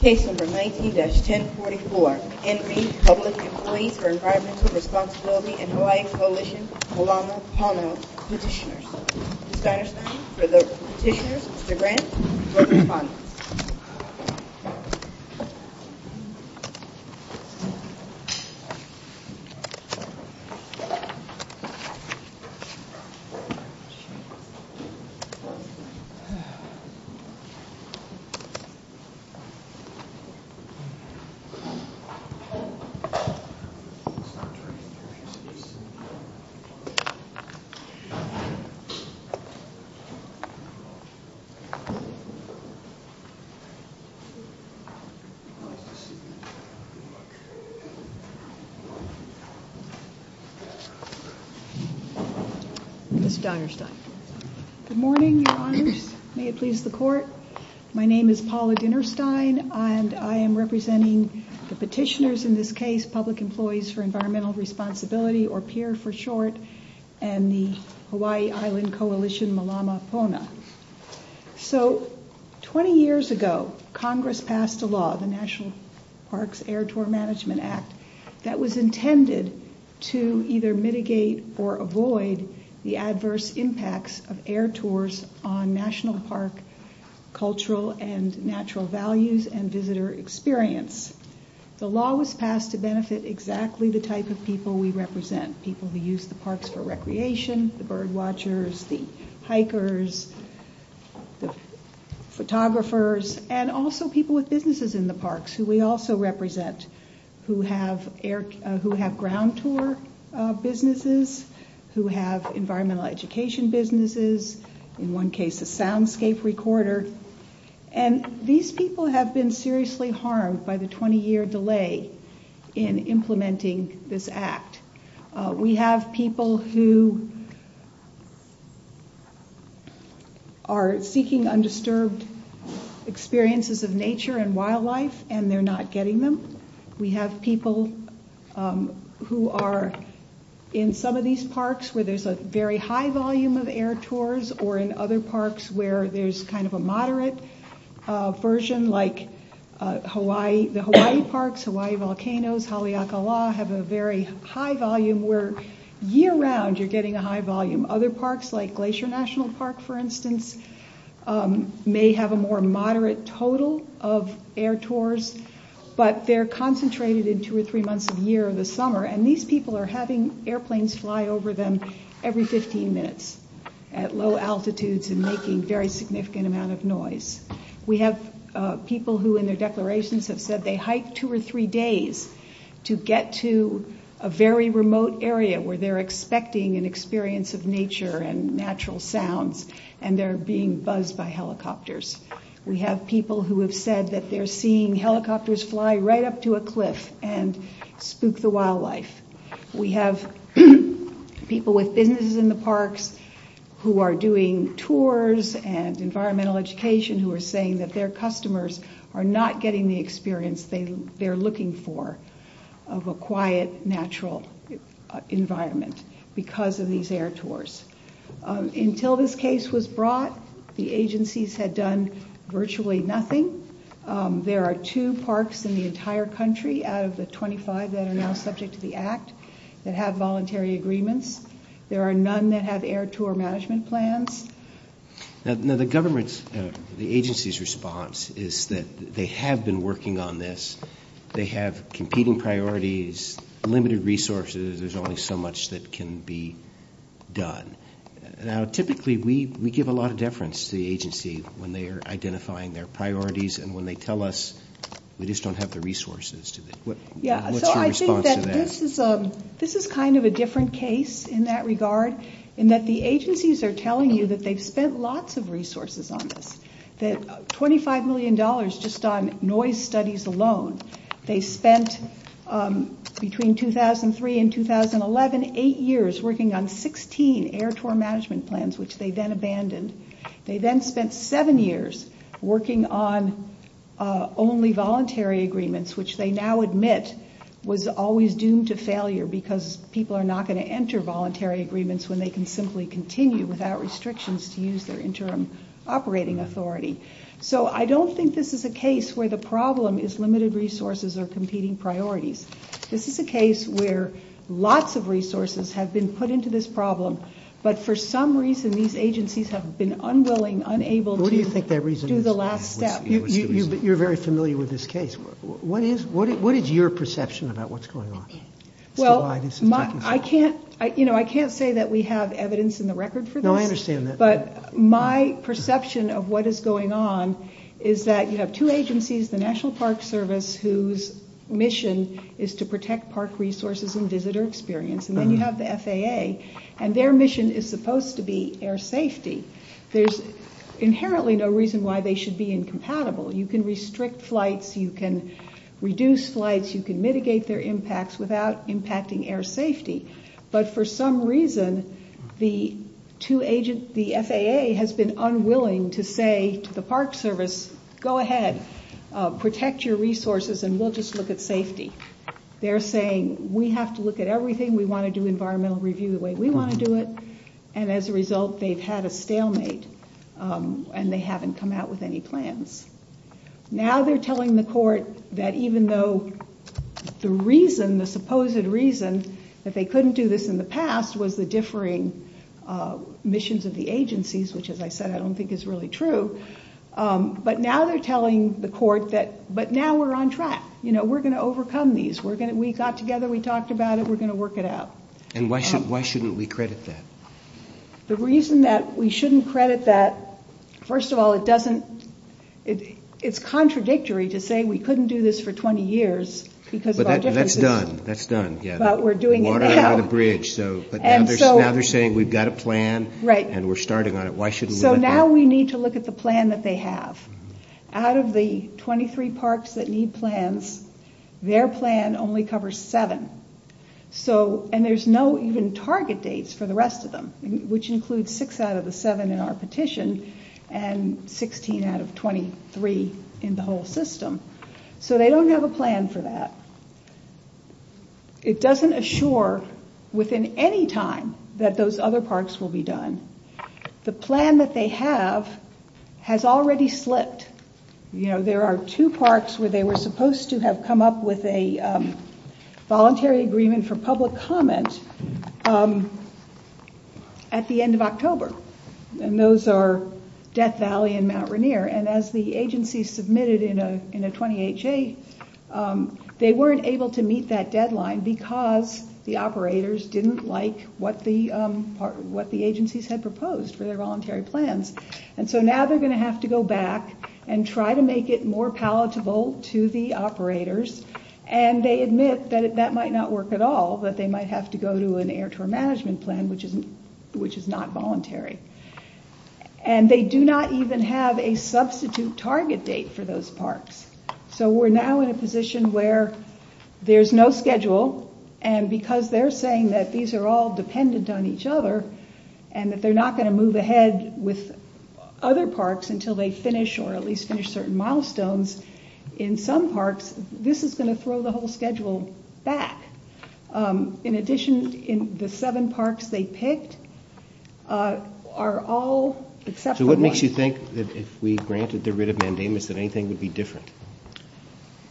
Case number 19-1044, Envi Public Employees for Environmental Responsibility and Hawaii Coalition Palomo Pono Petitioners. Ms. Geinerstein for the petitioners, Mr. Grant for the respondents. Ms. My name is Paula Dinnerstein, and I am representing the petitioners in this case, Public Employees for Environmental Responsibility, or PEER for short, and the Hawaii Island Coalition Malama Pona. So, 20 years ago, Congress passed a law, the National Parks Air Tour Management Act, that was intended to either mitigate or avoid the adverse impacts of air tours on national park cultural and natural values and visitor experience. The law was passed to benefit exactly the type of people we represent, people who use the parks for recreation, the bird watchers, the hikers, the photographers, and also people with businesses in the parks who we also represent, who have ground tour businesses, who have environmental education businesses, in one case a soundscape recorder, and these people have been seriously harmed by the 20 year delay in implementing this act. We have people who are seeking undisturbed experiences of nature and wildlife, and they're not getting them. We have people who are in some of these parks where there's a very high volume of air tours, or in other parks where there's kind of a moderate version, like the Hawaii Parks, Hawaii Volcanoes, Haleakala, have a very high volume, where year round you're getting a high volume. Other parks, like Glacier National Park, for instance, may have a more moderate total of air tours, but they're concentrated in two or three months of the year or the summer, and these people are having airplanes fly over them every 15 minutes at low altitudes and making a very significant amount of noise. We have people who in their declarations have said they hiked two or three days to get to a very remote area where they're expecting an experience of nature and natural sounds, and they're being buzzed by helicopters. We have people who have said that they're seeing helicopters fly right up to a cliff and spook the wildlife. We have people with businesses in the parks who are doing tours and environmental education who are saying that their customers are not getting the experience they're looking for of a quiet, natural environment because of these air tours. Until this case was brought, the agencies had done virtually nothing. There are two parks in the entire country out of the 25 that are now subject to the Act that have voluntary agreements. There are none that have air tour management plans. Now, the government's, the agency's response is that they have been working on this. They have competing priorities, limited resources. There's only so much that can be done. Now, typically, we give a lot of deference to the agency when they are identifying their priorities and when they tell us we just don't have the resources. What's your response to that? This is kind of a different case in that regard in that the agencies are telling you that they've spent lots of resources on this, that $25 million just on noise studies alone. They spent, between 2003 and 2011, eight years working on 16 air tour management plans, which they then abandoned. They then spent seven years working on only voluntary agreements, which they now admit was always doomed to failure because people are not going to enter voluntary agreements when they can simply continue without restrictions to use their interim operating authority. So I don't think this is a case where the problem is limited resources or competing priorities. This is a case where lots of resources have been put into this problem, but for some reason these agencies have been unwilling, unable to do the last step. Who do you think that reason is? You're very familiar with this case. What is your perception about what's going on? I can't say that we have evidence in the record for this, but my perception of what is going on is that you have two agencies, the National Park Service, whose mission is to protect park resources and visitor experience, and then you have the FAA, and their mission is supposed to be air safety. There's inherently no reason why they should be incompatible. You can restrict flights, you can reduce flights, you can mitigate their impacts without impacting air safety, but for some reason the FAA has been unwilling to say to the Park Service, go ahead, protect your resources, and we'll just look at safety. They're saying we have to look at everything, we want to do environmental review the way we want to do it, and as a result they've had a stalemate and they haven't come out with any plans. Now they're telling the court that even though the reason, the supposed reason, that they couldn't do this in the past was the differing missions of the agencies, which as I said I don't think is really true, but now they're telling the court that, but now we're on track, we're going to overcome these, we got together, we talked about it, we're going to work it out. And why shouldn't we credit that? The reason that we shouldn't credit that, first of all it doesn't, it's contradictory to say we couldn't do this for 20 years because of our differences. But that's done, that's done. But we're doing it now. But now they're saying we've got a plan and we're starting on it, why shouldn't we let them? So now we need to look at the plan that they have. Out of the 23 parks that need plans, their plan only covers 7. So, and there's no even target dates for the rest of them, which includes 6 out of the 7 in our petition and 16 out of 23 in the whole system. So they don't have a plan for that. It doesn't assure within any time that those other parks will be done. The plan that they have has already slipped. You know, there are two parks where they were supposed to have come up with a voluntary agreement for public comment at the end of October. And those are Death Valley and Mount Rainier. And as the agency submitted in a 20HA, they weren't able to meet that deadline because the operators didn't like what the agencies had proposed for their voluntary plans. And so now they're going to have to go back and try to make it more palatable to the operators. And they admit that that might not work at all, that they might have to go to an air tour management plan, which is not voluntary. And they do not even have a substitute target date for those parks. So we're now in a position where there's no schedule and because they're saying that these are all dependent on each other and that they're not going to move ahead with other parks until they finish or at least finish certain milestones in some parks, this is going to throw the whole schedule back. In addition, the seven parks they picked are all except for one. So what makes you think that if we granted the writ of mandamus that anything would be different?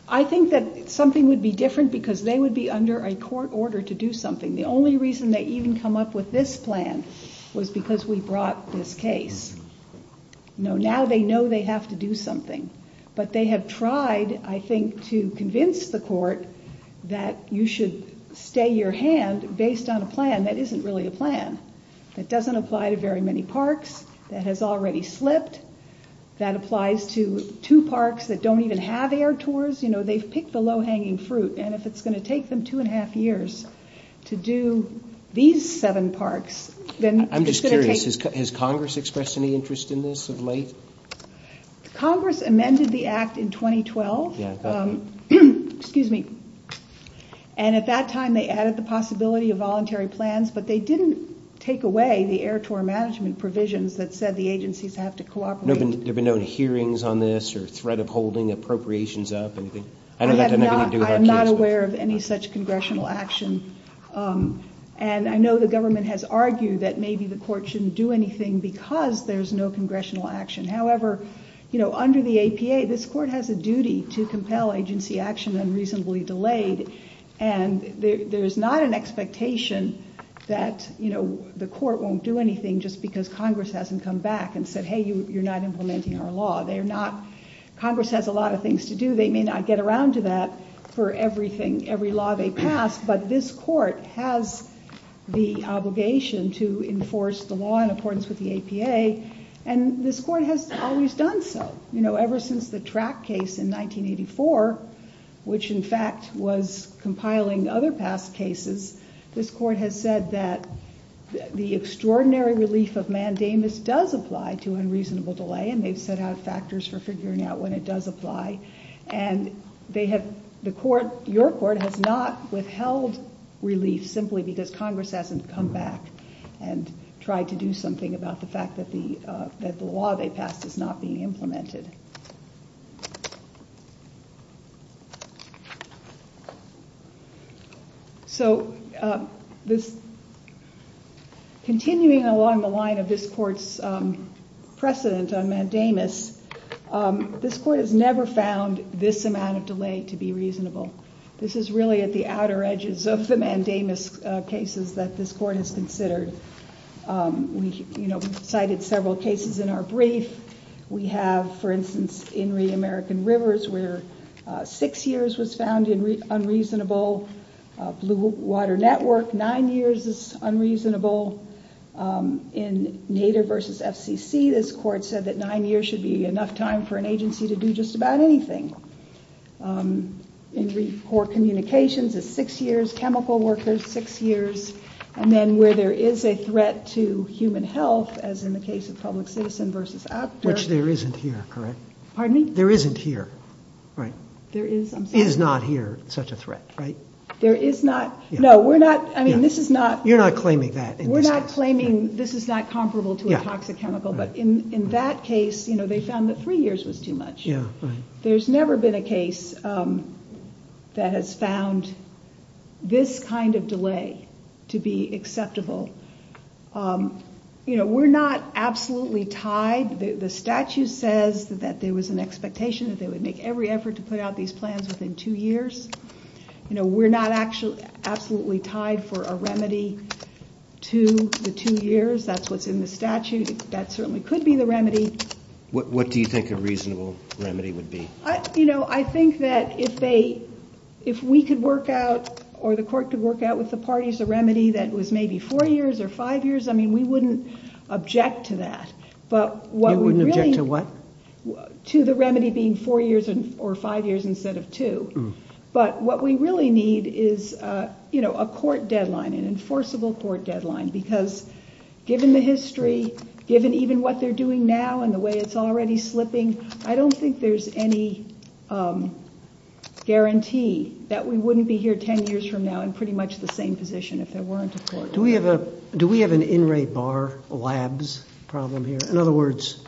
I think that something would be different because they would be under a court order to do something. The only reason they even come up with this plan was because we brought this case. No, now they know they have to do something. But they have tried, I think, to convince the court that you should stay your hand based on a plan that isn't really a plan. That doesn't apply to very many parks. That has already slipped. That applies to two parks that don't even have air tours. You know, they've picked the low-hanging fruit. And if it's going to take them two and a half years to do these seven parks, then it's going to take... Does Congress have any interest in this of late? Congress amended the act in 2012. Excuse me. And at that time they added the possibility of voluntary plans. But they didn't take away the air tour management provisions that said the agencies have to cooperate. There have been no hearings on this or threat of holding appropriations up? I am not aware of any such congressional action. And I know the government has argued that maybe the court shouldn't do anything because there's no congressional action. However, under the APA, this court has a duty to compel agency action unreasonably delayed. And there's not an expectation that the court won't do anything just because Congress hasn't come back and said, hey, you're not implementing our law. They're not... Congress has a lot of things to do. They may not get around to that for everything, every law they pass. But this court has the obligation to enforce the law in accordance with the APA. And this court has always done so. You know, ever since the track case in 1984, which in fact was compiling other past cases, this court has said that the extraordinary relief of mandamus does apply to unreasonable delay. And they've set out factors for figuring out when it does apply. And your court has not withheld relief simply because Congress hasn't come back and tried to do something about the fact that the law they passed is not being implemented. So continuing along the line of this court's precedent on mandamus, this court has never found this amount of delay to be reasonable. This is really at the outer edges of the mandamus cases that this court has considered. We, you know, cited several cases in our brief. We have, for instance, in Reed American Rivers where six years was found unreasonable. Blue Water Network, nine years is unreasonable. In Nader v. FCC, this court said that nine years should be enough time for an agency to do just about anything. In Reef Corps Communications, it's six years. Chemical workers, six years. And then where there is a threat to human health, as in the case of Public Citizen v. Actor. Which there isn't here, correct? Pardon me? There isn't here, right? There is, I'm sorry. Is not here such a threat, right? There is not. No, we're not. I mean, this is not. We're not claiming this is not comparable to a toxic chemical, but in that case, you know, they found that three years was too much. There's never been a case that has found this kind of delay to be acceptable. You know, we're not absolutely tied. The statute says that there was an expectation that they would make every effort to put out these plans within two years. You know, we're not absolutely tied for a remedy to the two years. That's what's in the statute. That certainly could be the remedy. What do you think a reasonable remedy would be? You know, I think that if we could work out, or the court could work out with the parties, a remedy that was maybe four years or five years, I mean, we wouldn't object to that. You wouldn't object to what? To the remedy being four years or five years instead of two. But what we really need is, you know, a court deadline, an enforceable court deadline. Because given the history, given even what they're doing now and the way it's already slipping, I don't think there's any guarantee that we wouldn't be here ten years from now in pretty much the same position if there weren't a court. Do we have an in re bar labs problem here? In other words,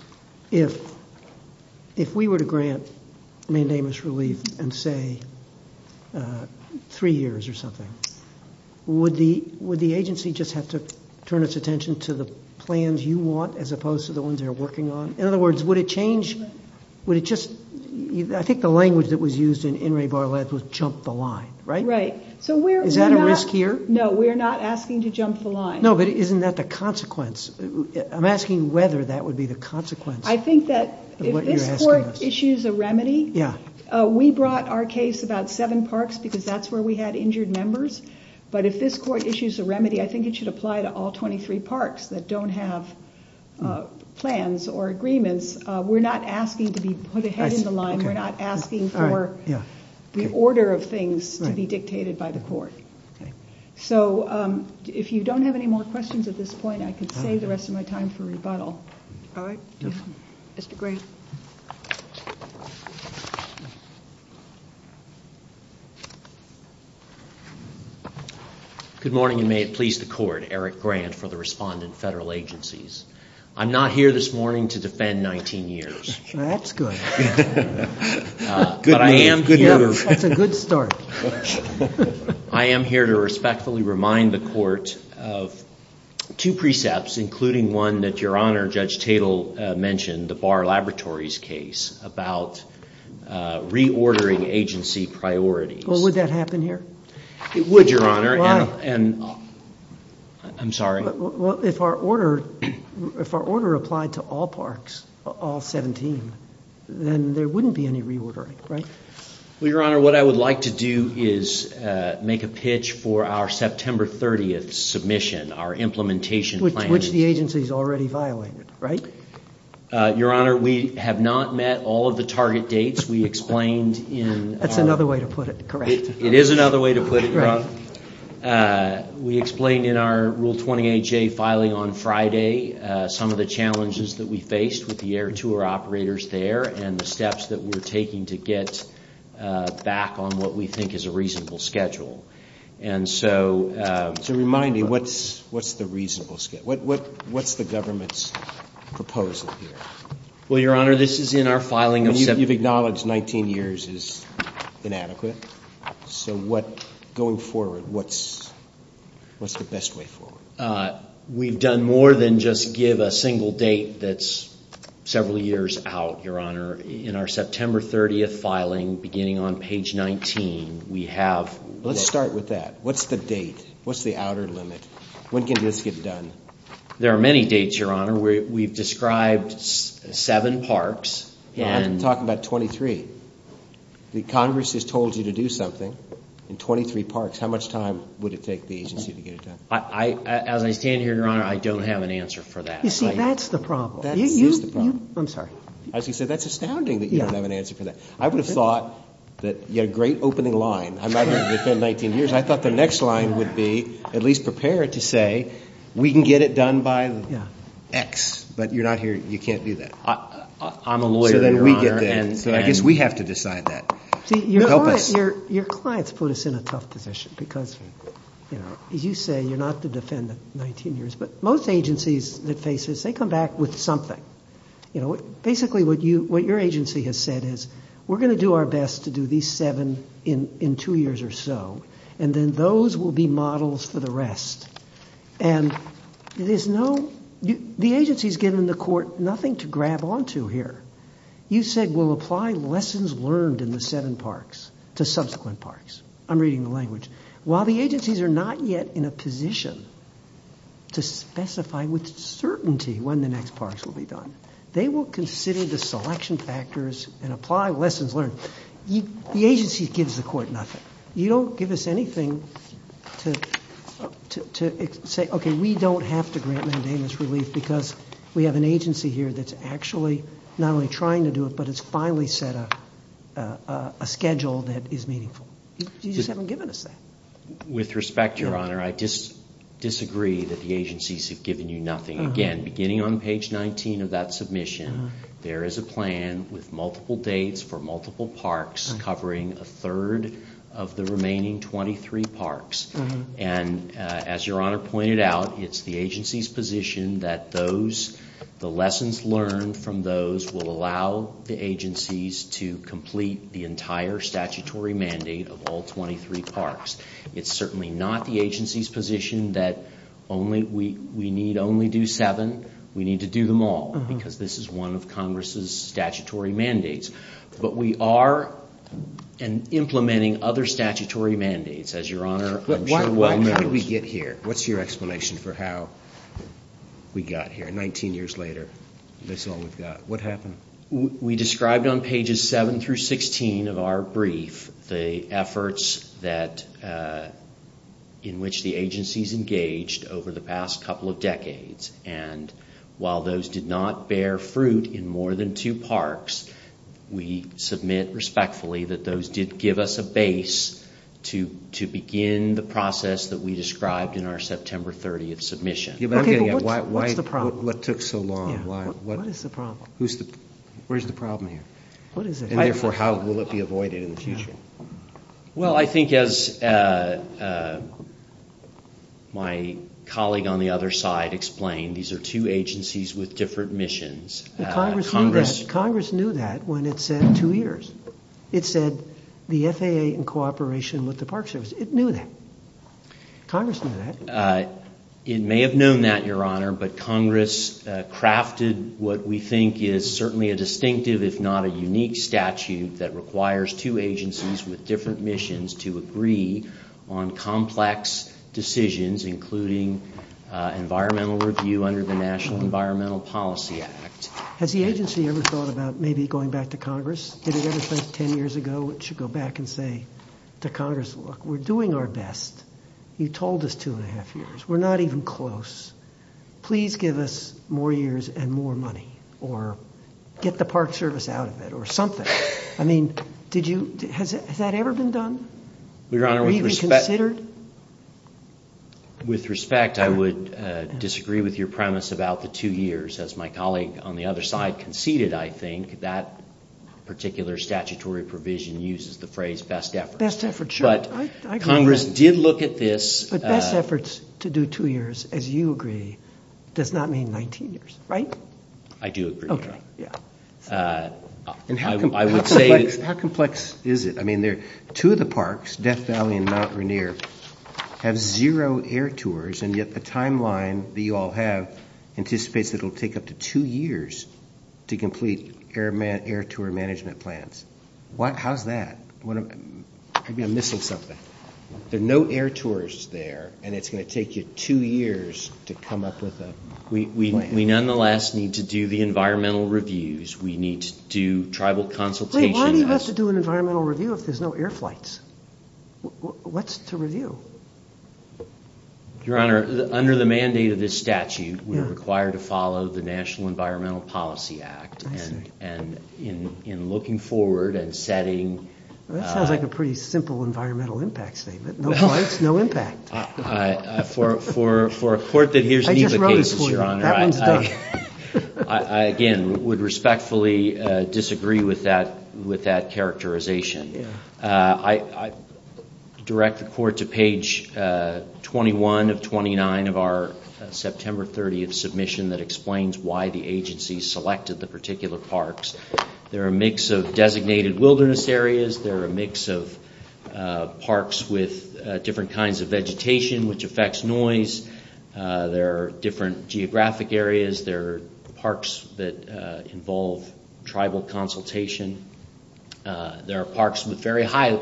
if we were to grant mandamus relief and say three years or something, would the agency just have to turn its attention to the plans you want as opposed to the ones they're working on? In other words, would it change, would it just, I think the language that was used in in re bar labs was jump the line, right? Right. Is that a risk here? No, we're not asking to jump the line. No, but isn't that the consequence? I'm asking whether that would be the consequence of what you're asking us. If this court issues a remedy, we brought our case about seven parks because that's where we had injured members. But if this court issues a remedy, I think it should apply to all 23 parks that don't have plans or agreements. We're not asking to be put ahead of the line. We're not asking for the order of things to be dictated by the court. So if you don't have any more questions at this point, I can save the rest of my time for rebuttal. All right. Mr. Grant. Good morning and may it please the court. Eric Grant for the Respondent Federal Agencies. I'm not here this morning to defend 19 years. That's good. Good move, good move. That's a good start. I am here to respectfully remind the court of two precepts, including one that Your Honor, Judge Tatel mentioned, the Barr Laboratories case about reordering agency priorities. Well, would that happen here? It would, Your Honor. Why? I'm sorry. Well, if our order applied to all parks, all 17, then there wouldn't be any reordering, right? Well, Your Honor, what I would like to do is make a pitch for our September 30th submission, our implementation plan. Which the agency's already violated, right? Your Honor, we have not met all of the target dates. We explained in our... That's another way to put it, correct. It is another way to put it, Your Honor. We explained in our Rule 20HA filing on Friday some of the challenges that we faced with the air tour operators there and the steps that we're taking to get back on what we think is a reasonable schedule. And so... So remind me, what's the reasonable schedule? What's the government's proposal here? Well, Your Honor, this is in our filing of... You've acknowledged 19 years is inadequate. So what... Going forward, what's the best way forward? We've done more than just give a single date that's several years out, Your Honor. In our September 30th filing, beginning on page 19, we have... Let's start with that. What's the date? What's the outer limit? When can this get done? There are many dates, Your Honor. We've described seven parks and... I'm talking about 23. The Congress has told you to do something in 23 parks. How much time would it take the agency to get it done? As I stand here, Your Honor, I don't have an answer for that. You see, that's the problem. That is the problem. I'm sorry. As you said, that's astounding that you don't have an answer for that. I would have thought that you had a great opening line. I'm not here to defend 19 years. I thought the next line would be at least prepare to say we can get it done by X. But you're not here. You can't do that. I'm a lawyer, Your Honor. So then we get there. So I guess we have to decide that. Help us. Your clients put us in a tough position because, as you say, you're not to defend 19 years. But most agencies that face this, they come back with something. Basically, what your agency has said is we're going to do our best to do these seven in two years or so. And then those will be models for the rest. And there's no... The agency has given the court nothing to grab onto here. You said we'll apply lessons learned in the seven parks to subsequent parks. I'm reading the language. While the agencies are not yet in a position to specify with certainty when the next parks will be done, they will consider the selection factors and apply lessons learned. The agency gives the court nothing. You don't give us anything to say, okay, we don't have to grant mandamus relief because we have an agency here that's actually not only trying to do it, but it's finally set a schedule that is meaningful. You just haven't given us that. With respect, Your Honor, I disagree that the agencies have given you nothing. Again, beginning on page 19 of that submission, there is a plan with multiple dates for multiple parks covering a third of the remaining 23 parks. And as Your Honor pointed out, it's the agency's position that the lessons learned from those will allow the agencies to complete the entire statutory mandate of all 23 parks. It's certainly not the agency's position that we need only do seven. We need to do them all because this is one of Congress's statutory mandates. But we are implementing other statutory mandates, as Your Honor, I'm sure well knows. Why did we get here? What's your explanation for how we got here 19 years later? That's all we've got. What happened? We described on pages 7 through 16 of our brief the efforts in which the agencies engaged over the past couple of decades. And while those did not bear fruit in more than two parks, we submit respectfully that those did give us a base to begin the process that we described in our September 30th submission. Okay, but what's the problem? What took so long? What is the problem? Where's the problem here? And therefore, how will it be avoided in the future? Well, I think as my colleague on the other side explained, these are two agencies with different missions. Congress knew that when it said two years. It said the FAA in cooperation with the Park Service. It knew that. Congress knew that. It may have known that, Your Honor, but Congress crafted what we think is certainly a distinctive, if not a unique statute that requires two agencies with different missions to agree on complex decisions, including environmental review under the National Environmental Policy Act. Has the agency ever thought about maybe going back to Congress? Did it ever think 10 years ago it should go back and say to Congress, look, we're doing our best. You told us two and a half years. We're not even close. Please give us more years and more money or get the Park Service out of it or something. I mean, did you, has that ever been done? Were you even considered? With respect, I would disagree with your premise about the two years. As my colleague on the other side conceded, I think, that particular statutory provision uses the phrase best efforts. But Congress did look at this. But best efforts to do two years, as you agree, does not mean 19 years, right? I do agree, Your Honor. How complex is it? I mean, two of the parks, Death Valley and Mount Rainier, have zero air tours, and yet the timeline that you all have anticipates that it'll take up to two years to complete air tour management plans. How's that? I'm missing something. There are no air tours there, and it's going to take you two years to come up with a plan. We nonetheless need to do the environmental reviews. We need to do tribal consultations. Wait, why do you have to do an environmental review if there's no air flights? What's to review? Your Honor, under the mandate of this statute, we are required to follow the National Environmental Policy Act. I see. And in looking forward and setting... That sounds like a pretty simple environmental impact statement. No flights, no impact. For a court that hears NEPA cases, Your Honor... I just wrote it for you. That one's done. I, again, would respectfully disagree with that characterization. I direct the court to page 21 of 29 of our September 30th submission that explains why the agency selected the particular parks. There are a mix of designated wilderness areas. There are a mix of parks with different kinds of vegetation, which affects noise. There are different geographic areas. There are parks that involve tribal consultation. There are parks with very high...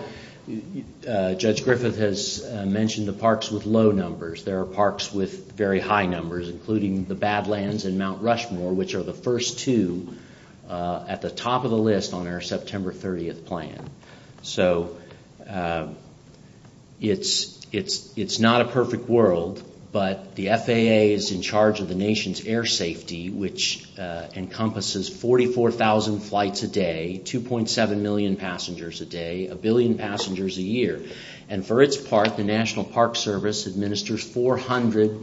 Judge Griffith has mentioned the parks with low numbers. There are parks with very high numbers, including the Badlands and Mount Rushmore, which are the first two at the top of the list on our September 30th plan. So it's not a perfect world, but the FAA is in charge of the nation's air safety, which encompasses 44,000 flights a day, 2.7 million passengers a day, a billion passengers a year. And for its part, the National Park Service administers 400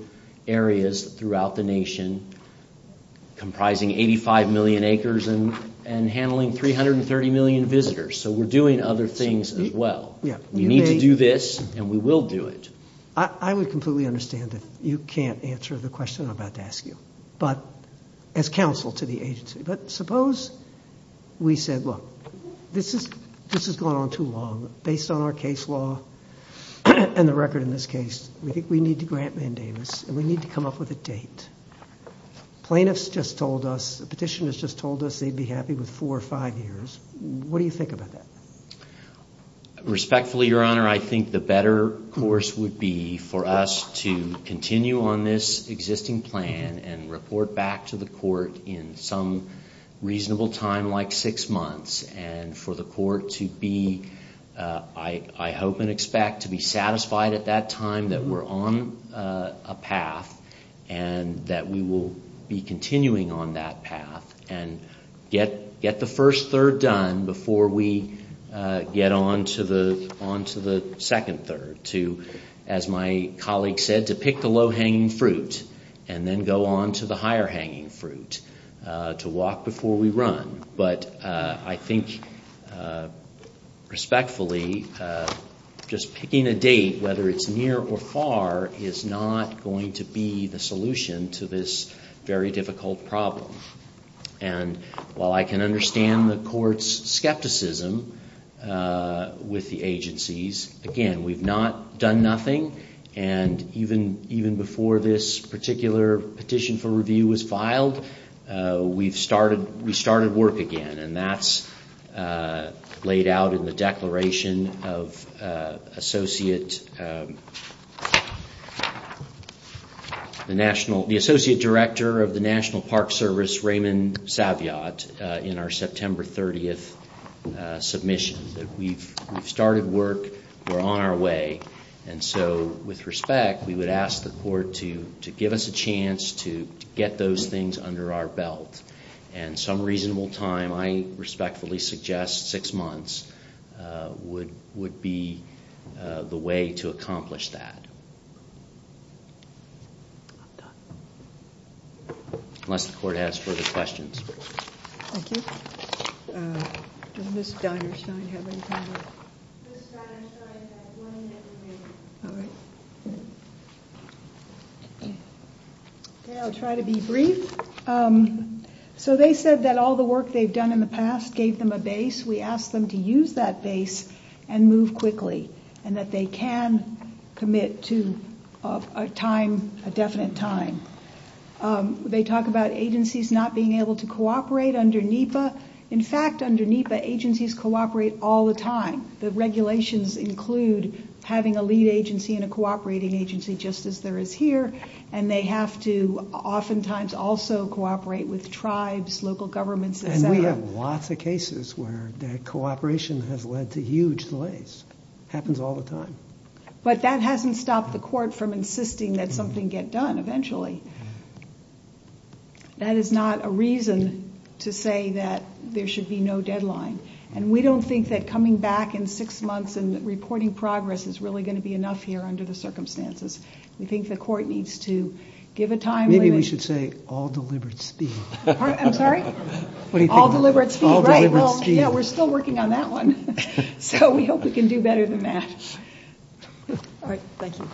areas throughout the nation comprising 85 million acres and handling 330 million visitors. So we're doing other things as well. We need to do this, and we will do it. I would completely understand if you can't answer the question I'm about to ask you, as counsel to the agency. But suppose we said, look, this has gone on too long. Based on our case law, and the record in this case, we think we need to grant mandamus and we need to come up with a date. Plaintiffs just told us, petitioners just told us they'd be happy with four or five years. What do you think about that? Respectfully, Your Honor, I think the better course would be for us to continue on this existing plan and report back to the court in some reasonable time, like six months, and for the court to be, to be satisfied at that time that we're on a path and that we will be continuing on that path and get the first third done before we get on to the second third. To, as my colleague said, to pick the low-hanging fruit and then go on to the higher-hanging fruit. To walk before we run. But I think, respectfully, just picking a date, whether it's near or far, is not going to be the solution to this very difficult problem. And while I can understand the court's skepticism with the agencies, again, we've not done nothing and even before this particular petition for review was filed, we've started work again and that's laid out in the declaration of associate, the National, the Associate Director of the National Park Service, Raymond Saviat, in our September 30th submission. We've started work, we're on our way, and so, with respect, we would ask the court to give us a chance to get those things under our belt and some reasonable time, which I respectfully suggest, six months, would be the way to accomplish that. I'm done. Unless the court has further questions. Thank you. Does Ms. Dinerstein have anything to add? Ms. Dinerstein has one minute remaining. All right. Okay, I'll try to be brief. So they said that all the work that we've done in the past gave them a base. We asked them to use that base and move quickly and that they can commit to a time, a definite time. They talk about agencies not being able to cooperate under NEPA. In fact, under NEPA, agencies cooperate all the time. The regulations include having a lead agency and a cooperating agency just as there is here and there are lots of cases where that cooperation has led to huge delays. Happens all the time. But that hasn't stopped the court from insisting that something get done eventually. That is not a reason to say that there should be no deadline and we don't think that coming back in six months and reporting progress is really going to be enough here under the circumstances. We think the court needs to give a time limit. I think we should say all deliberate speed. I'm sorry? All deliberate speed. We're still working on that one. We hope we can do better than that. Thank you. Thank you.